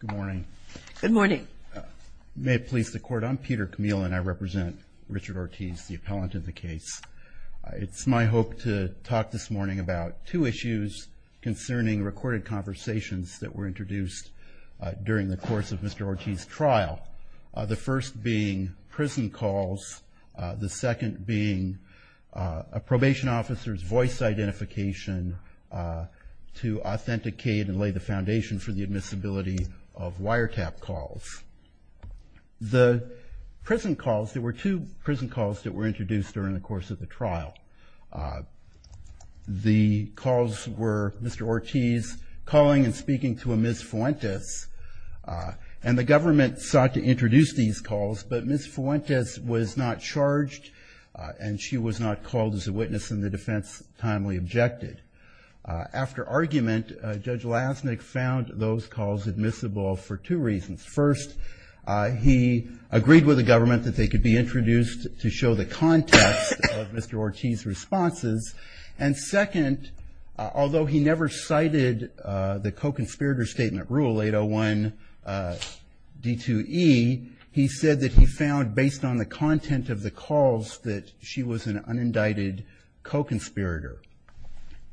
Good morning. May it please the court, I'm Peter Camille and I represent Richard Ortiz, the appellant in the case. It's my hope to talk this morning about two issues concerning recorded conversations that were introduced during the course of Mr. Ortiz's trial, the first being the foundation for the admissibility of wiretap calls. The prison calls, there were two prison calls that were introduced during the course of the trial. The calls were Mr. Ortiz calling and speaking to a Ms. Fuentes and the government sought to introduce these calls but Ms. Fuentes was not charged and she was not called as a witness and the defense timely objected. After argument, Judge Lasnik found those calls admissible for two reasons. First, he agreed with the government that they could be introduced to show the context of Mr. Ortiz's responses and second, although he never cited the co-conspirator statement rule 801 D2E, he said that he found based on the content of the calls that she was an unindicted co-conspirator.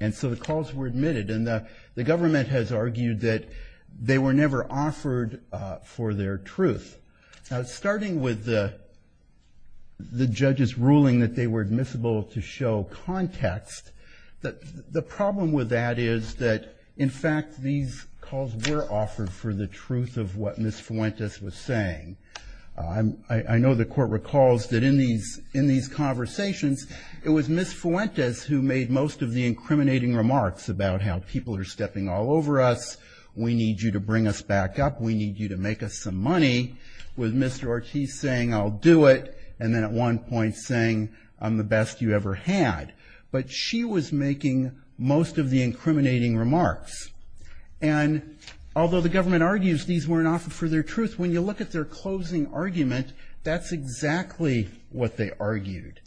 And so the calls were admitted and the government has argued that they were never offered for their truth. Now, starting with the judge's ruling that they were admissible to show context, the problem with that is that in fact these calls were offered for the truth of what Ms. Fuentes was saying. I know the court recalls that in these conversations, it was Ms. Fuentes who made most of the incriminating remarks about how people are stepping all over us, we need you to bring us back up, we need you to make us some money, with Mr. Ortiz saying I'll do it and then at one point saying I'm the best you ever had. But she was making most of the incriminating remarks and although the government argues these weren't offered for their truth, when you look at their closing argument, that's exactly what they argued.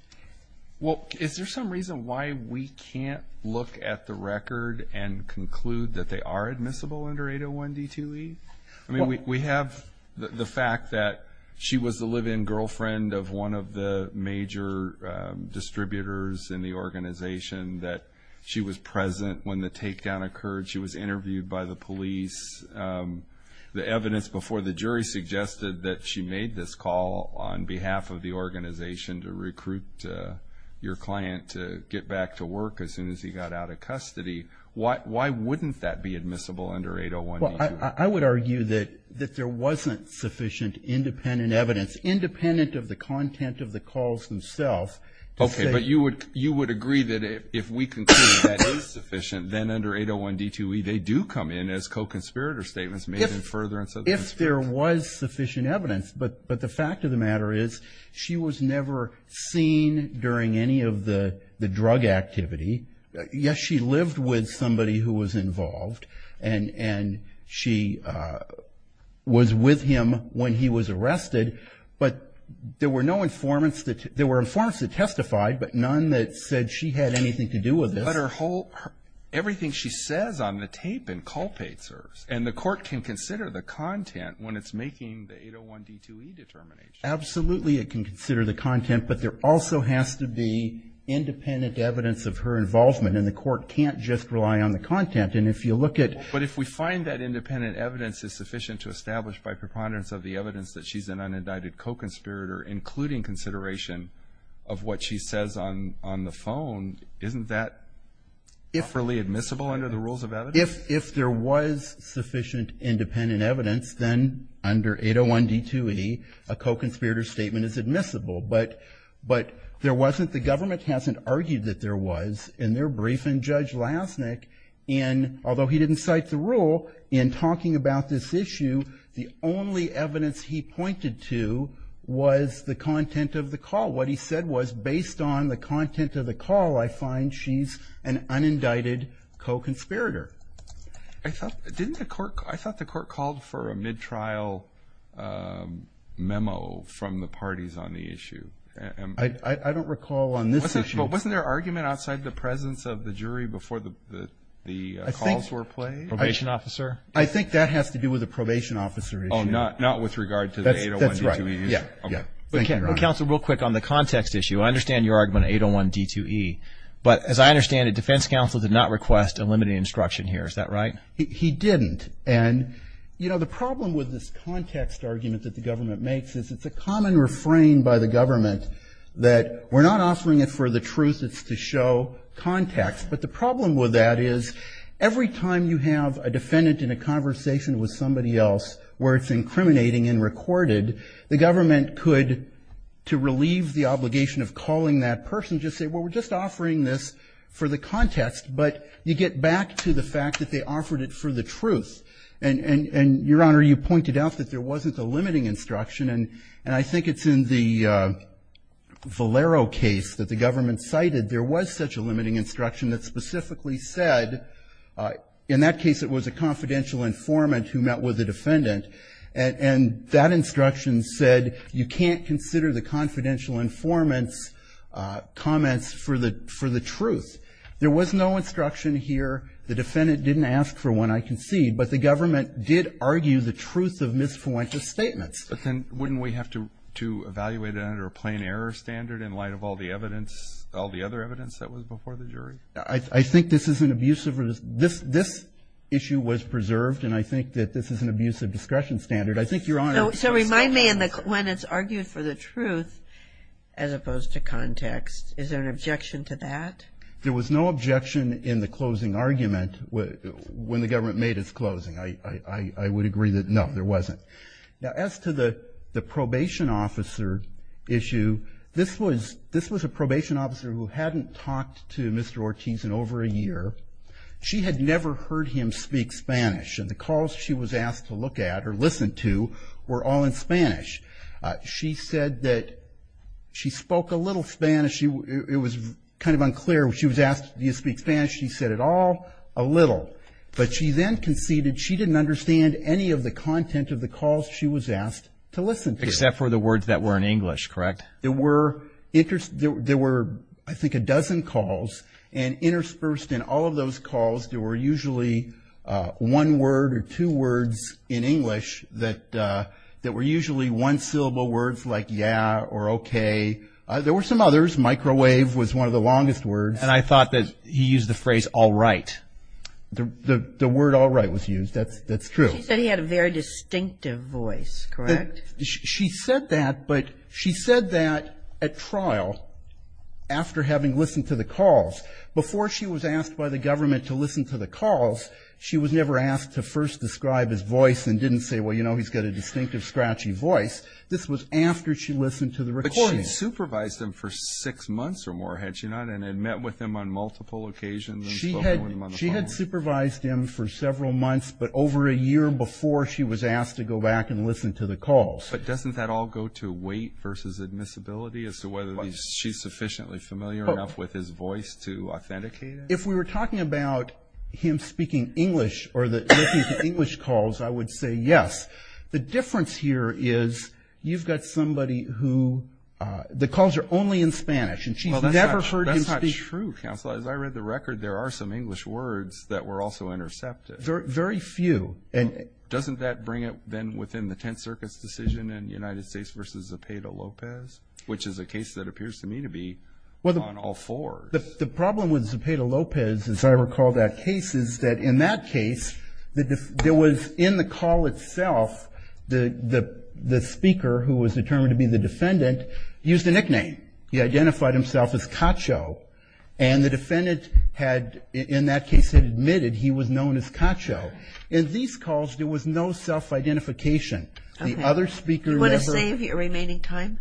Well, is there some reason why we can't look at the record and conclude that they are admissible under 801 D2E? I mean, we have the fact that she was the live-in girlfriend of one of the major distributors in the organization, that she was present when the takedown occurred, she was interviewed by the police. The evidence before the jury suggested that she made this call on behalf of the organization to recruit your client to get back to work as soon as he got out of custody. Why wouldn't that be admissible under 801 D2E? Well, I would argue that there wasn't sufficient independent evidence, independent of the content of the calls themselves. Okay, but you would agree that if we conclude that is sufficient, then under 801 D2E, they do come in as co-conspirator statements made in furtherance of... If there was sufficient evidence, but the fact of the matter is, she was never seen during any of the drug activity. Yes, she lived with somebody who was involved, and she was with him when he was arrested, but there were no informants that testified, but none that said she had anything to do with this. But everything she says on the tape inculpates her, and the court can consider the content when it's making the 801 D2E determination. Absolutely, it can consider the content, but there also has to be independent evidence of her involvement, and the court can't just rely on the content. And if you look at... But if we find that independent evidence is sufficient to establish by preponderance of the evidence that she's an unindicted co-conspirator, including consideration of what she says on the phone, isn't that properly admissible under the rules of evidence? If there was sufficient independent evidence, then under 801 D2E, a co-conspirator statement is admissible. But there wasn't... The government hasn't argued that there was. In their briefing, Judge Lasnik, in... Although he didn't cite the rule, in talking about this issue, the only evidence he pointed to was the content of the call. What he said was, based on the content of the call, I find she's an unindicted co-conspirator. I thought... Didn't the court... I thought the court called for a mid-trial memo from the parties on the issue. I don't recall on this issue... But wasn't there argument outside the presence of the jury before the calls were played? I think... Probation officer? I think that has to do with a probation officer issue. Oh, not with regard to the 801 D2E? That's right. Yeah, yeah. Thank you, Your Honor. Counsel, real quick on the context issue. I understand your argument on 801 D2E, but as I understand it, defense counsel did not request a limiting instruction here. Is that right? He didn't. And, you know, the problem with this context argument that the government makes is it's a common refrain by the government that we're not offering it for the truth, it's to show context. But the problem with that is every time you have a defendant in a conversation with somebody else where it's incriminating and recorded, the government could, to relieve the obligation of calling that person, just say, well, we're just offering this for the context. But you get back to the fact that they offered it for the truth. And, Your Honor, you pointed out that there wasn't a limiting instruction. And I think it's in the Valero case that the government cited, there was such a limiting instruction that specifically said, in that case, it was a confidential informant who met with the defendant. And that instruction said, you can't consider the confidential informant's comments for the truth. There was no instruction here. The defendant didn't ask for one, I concede. But the government did argue the truth of misfluentous statements. But then wouldn't we have to evaluate it under a plain error standard in light of all the evidence, all the other evidence that was before the jury? I think this is an abusive, this issue was preserved. And I think that this is an abusive discretion standard. I think, Your Honor. So remind me, when it's argued for the truth, as opposed to context, is there an objection to that? There was no objection in the closing argument when the government made its closing. I would agree that, no, there wasn't. Now, as to the probation officer issue, this was a probation officer who hadn't talked to Mr. Ortiz in over a year. She had never heard him speak Spanish. And the calls she was asked to look at or listen to were all in Spanish. She said that she spoke a little Spanish. It was kind of unclear. She was asked, do you speak Spanish? She said, at all, a little. But she then conceded she didn't understand any of the content of the calls she was asked to listen to. Except for the words that were in English, correct? There were, I think, a dozen calls. And interspersed in all of those calls, there were usually one word or two words in English that were usually one-syllable words like yeah or okay. There were some others. Microwave was one of the longest words. And I thought that he used the phrase all right. The word all right was used. That's true. She said he had a very distinctive voice, correct? She said that, but she said that at trial, after having listened to the calls, before she was asked by the government to listen to the calls, she was never asked to first describe his voice and didn't say, well, you know, he's got a distinctive scratchy voice. This was after she listened to the recording. But she had supervised him for six months or more, had she not? And had met with him on multiple occasions and spoken with him on the phone? She had supervised him for several months, but over a year before she was asked to go back and listen to the calls. But doesn't that all go to weight versus admissibility as to whether she's sufficiently familiar enough with his voice to authenticate it? If we were talking about him speaking English or listening to English calls, I would say yes. The difference here is you've got somebody who, the calls are only in Spanish. And she's never heard him speak. Well, that's not true, counsel. As I read the record, there are some English words that were also intercepted. Very few. And doesn't that bring it then within the Tenth Circuit's decision in United States versus Zepeda-Lopez, which is a case that appears to me to be on all fours? The problem with Zepeda-Lopez, as I recall that case, is that in that case, there was in the call itself, the speaker who was determined to be the defendant used a nickname. He identified himself as Cacho. And the defendant had, in that case, had admitted he was known as Cacho. In these calls, there was no self-identification. The other speaker who ever- You want to save your remaining time?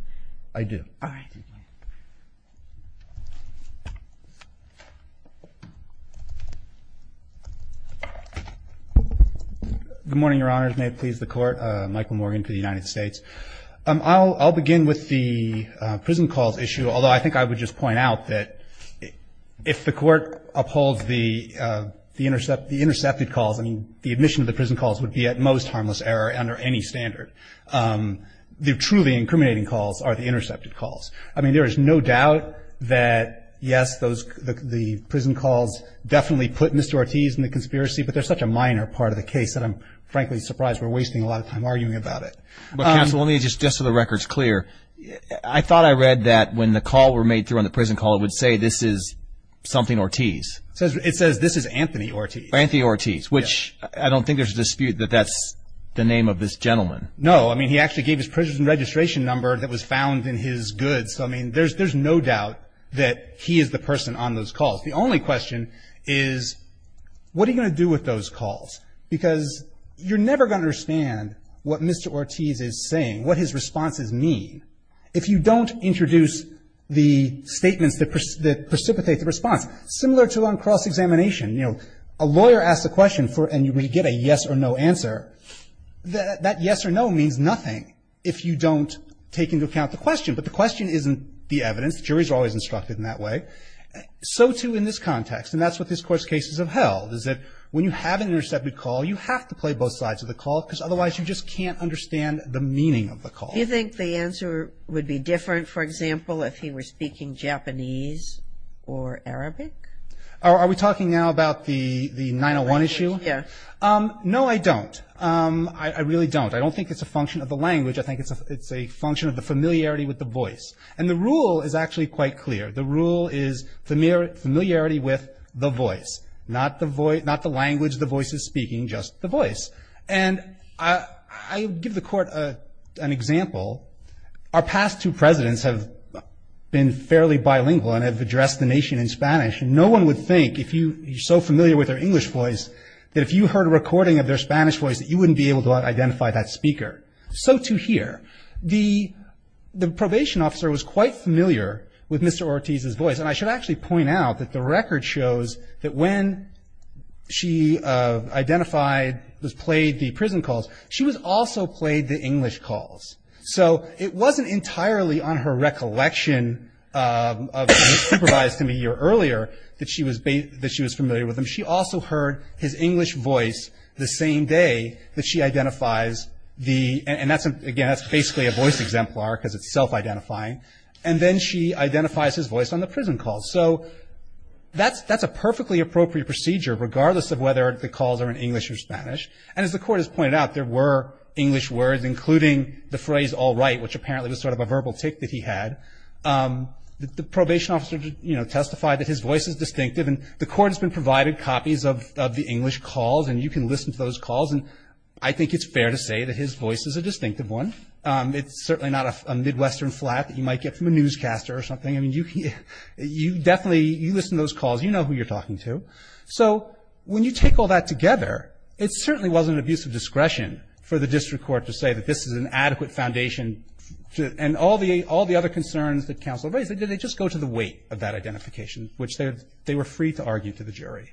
I do. All right. Good morning, Your Honors. May it please the Court. Michael Morgan for the United States. I'll begin with the prison calls issue, although I think I would just point out that if the Court upholds the intercepted calls, I mean, the admission of the prison calls would be, at most, harmless error under any standard. The truly incriminating calls are the intercepted calls. I mean, there is no doubt that, yes, the prison calls definitely put Mr. Ortiz in the conspiracy, but they're such a minor part of the case that I'm, frankly, surprised we're wasting a lot of time arguing about it. But counsel, let me just, just so the record's clear, I thought I read that when the call were made through on the prison call, it would say, this is something Ortiz. It says, this is Anthony Ortiz. Anthony Ortiz, which I don't think there's a dispute that that's the name of this gentleman. No. I mean, he actually gave his prison registration number that was found in his goods. So, I mean, there's no doubt that he is the person on those calls. The only question is, what are you going to do with those calls? Because you're never going to understand what Mr. Ortiz is saying, what his responses mean, if you don't introduce the statements that precipitate the response. Similar to on cross-examination, you know, a lawyer asks a question for, and you get a yes or no answer. That yes or no means nothing if you don't take into account the question. But the question isn't the evidence. Juries are always instructed in that way. So, too, in this context, and that's what this Court's case is about, is that when you have an intercepted call, you have to play both sides of the call, because otherwise, you just can't understand the meaning of the call. Do you think the answer would be different, for example, if he were speaking Japanese or Arabic? Are we talking now about the 901 issue? Yes. No, I don't. I really don't. I don't think it's a function of the language. I think it's a function of the familiarity with the voice. And the rule is actually quite clear. The rule is familiarity with the voice, not the language the voice is speaking, just the voice. And I give the Court an example. Our past two presidents have been fairly bilingual and have addressed the nation in Spanish. And no one would think, if you're so familiar with their English voice, that if you heard a recording of their Spanish voice, that you wouldn't be able to identify that speaker. So, too, here. The probation officer was quite familiar with Mr. Ortiz's voice. And I should actually point out that the record shows that when she identified, played the prison calls, she was also played the English calls. So it wasn't entirely on her recollection of being supervised a year earlier that she was familiar with him. She also heard his English voice the same day that she identifies the—and, again, that's basically a voice exemplar because it's self-identifying—and then she identifies his voice on the prison calls. So that's a perfectly appropriate procedure, regardless of whether the calls are in English or Spanish. And as the Court has pointed out, there were English words, including the phrase, all right, which apparently was sort of a verbal tick that he had. The probation officer testified that his voice is distinctive. And the Court has been provided copies of the English calls. And you can listen to those calls. And I think it's fair to say that his voice is a distinctive one. It's certainly not a Midwestern flat that you might get from a newscaster or something. I mean, you definitely—you listen to those calls. You know who you're talking to. So when you take all that together, it certainly wasn't an abuse of discretion for the district court to say that this is an adequate foundation to—and all the other concerns that counsel raised, they just go to the weight of that identification, which they were free to argue to the jury.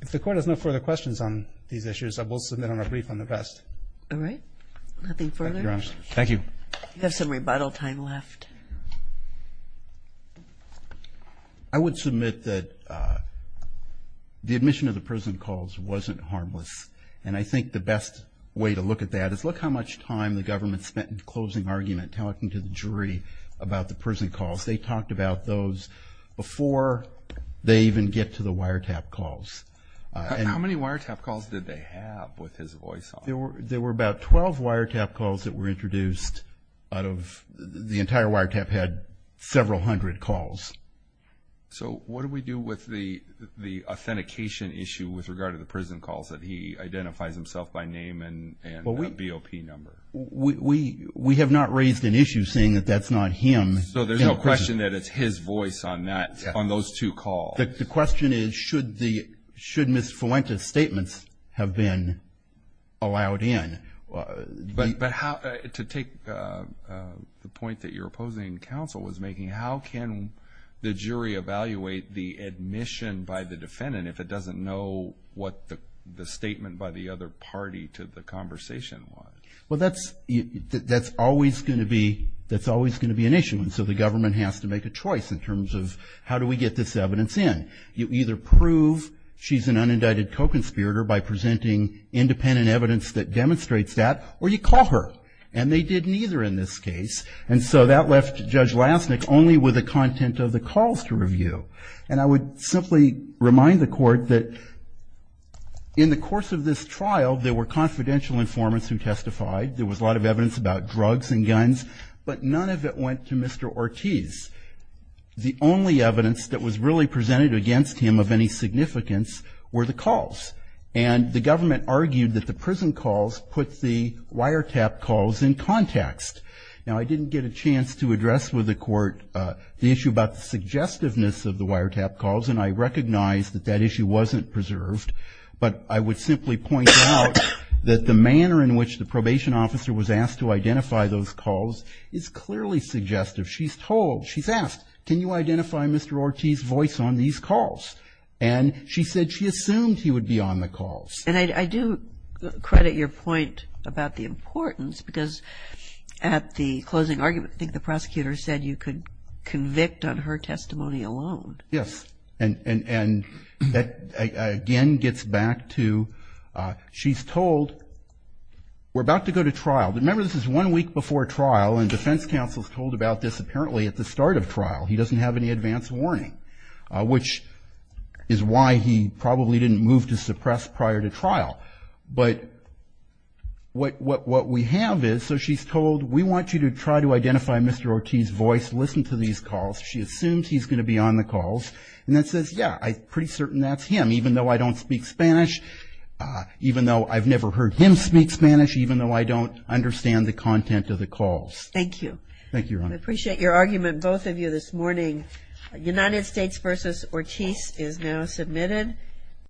If the Court has no further questions on these issues, I will submit on a brief on the rest. All right. Nothing further? Thank you, Your Honor. Thank you. We have some rebuttal time left. I would submit that the admission of the prison calls wasn't harmless. And I think the best way to look at that is, look how much time the government spent in closing argument, talking to the jury about the prison calls. They talked about those before they even get to the wiretap calls. How many wiretap calls did they have with his voice on? There were about 12 wiretap calls that were introduced out of the entire wiretap had several hundred calls. So what do we do with the authentication issue with regard to the prison calls that he identifies himself by name and BOP number? We have not raised an issue saying that that's not him. So there's no question that it's his voice on that, on those two calls. The question is, should Ms. Fuentes' statements have been allowed in? But to take the point that your opposing counsel was making, how can the jury evaluate the admission by the defendant if it doesn't know what the statement by the other party to the conversation was? Well, that's always going to be an issue. And so the government has to make a choice in terms of, how do we get this evidence in? You either prove she's an unindicted co-conspirator by presenting independent evidence that demonstrates that, or you call her. And they did neither in this case. And so that left Judge Lassnick only with the content of the calls to review. And I would simply remind the court that in the course of this trial, there were confidential informants who testified. There was a lot of evidence about drugs and guns, but none of it went to Mr. Ortiz. The only evidence that was really presented against him of any significance were the calls. And the government argued that the prison calls put the wiretap calls in context. Now, I didn't get a chance to address with the court the issue about the suggestiveness of the wiretap calls, and I recognize that that issue wasn't preserved. But I would simply point out that the manner in which the probation officer was asked to identify those calls is clearly suggestive. She's told, she's asked, can you identify Mr. Ortiz's voice on these calls? And she said she assumed he would be on the calls. And I do credit your point about the importance, because at the closing argument, I think the prosecutor said you could convict on her testimony alone. Yes, and that again gets back to, she's told, we're about to go to trial. But remember, this is one week before trial, and defense counsel's told about this apparently at the start of trial. He doesn't have any advance warning, which is why he probably didn't move to suppress prior to trial. But what we have is, so she's told, we want you to try to identify Mr. Ortiz's voice, listen to these calls. She assumes he's going to be on the calls. And then says, yeah, I'm pretty certain that's him, even though I don't speak Spanish, even though I've never heard him speak Spanish, even though I don't understand the content of the calls. Thank you. Thank you, Your Honor. We appreciate your argument, both of you, this morning. United States versus Ortiz is now submitted.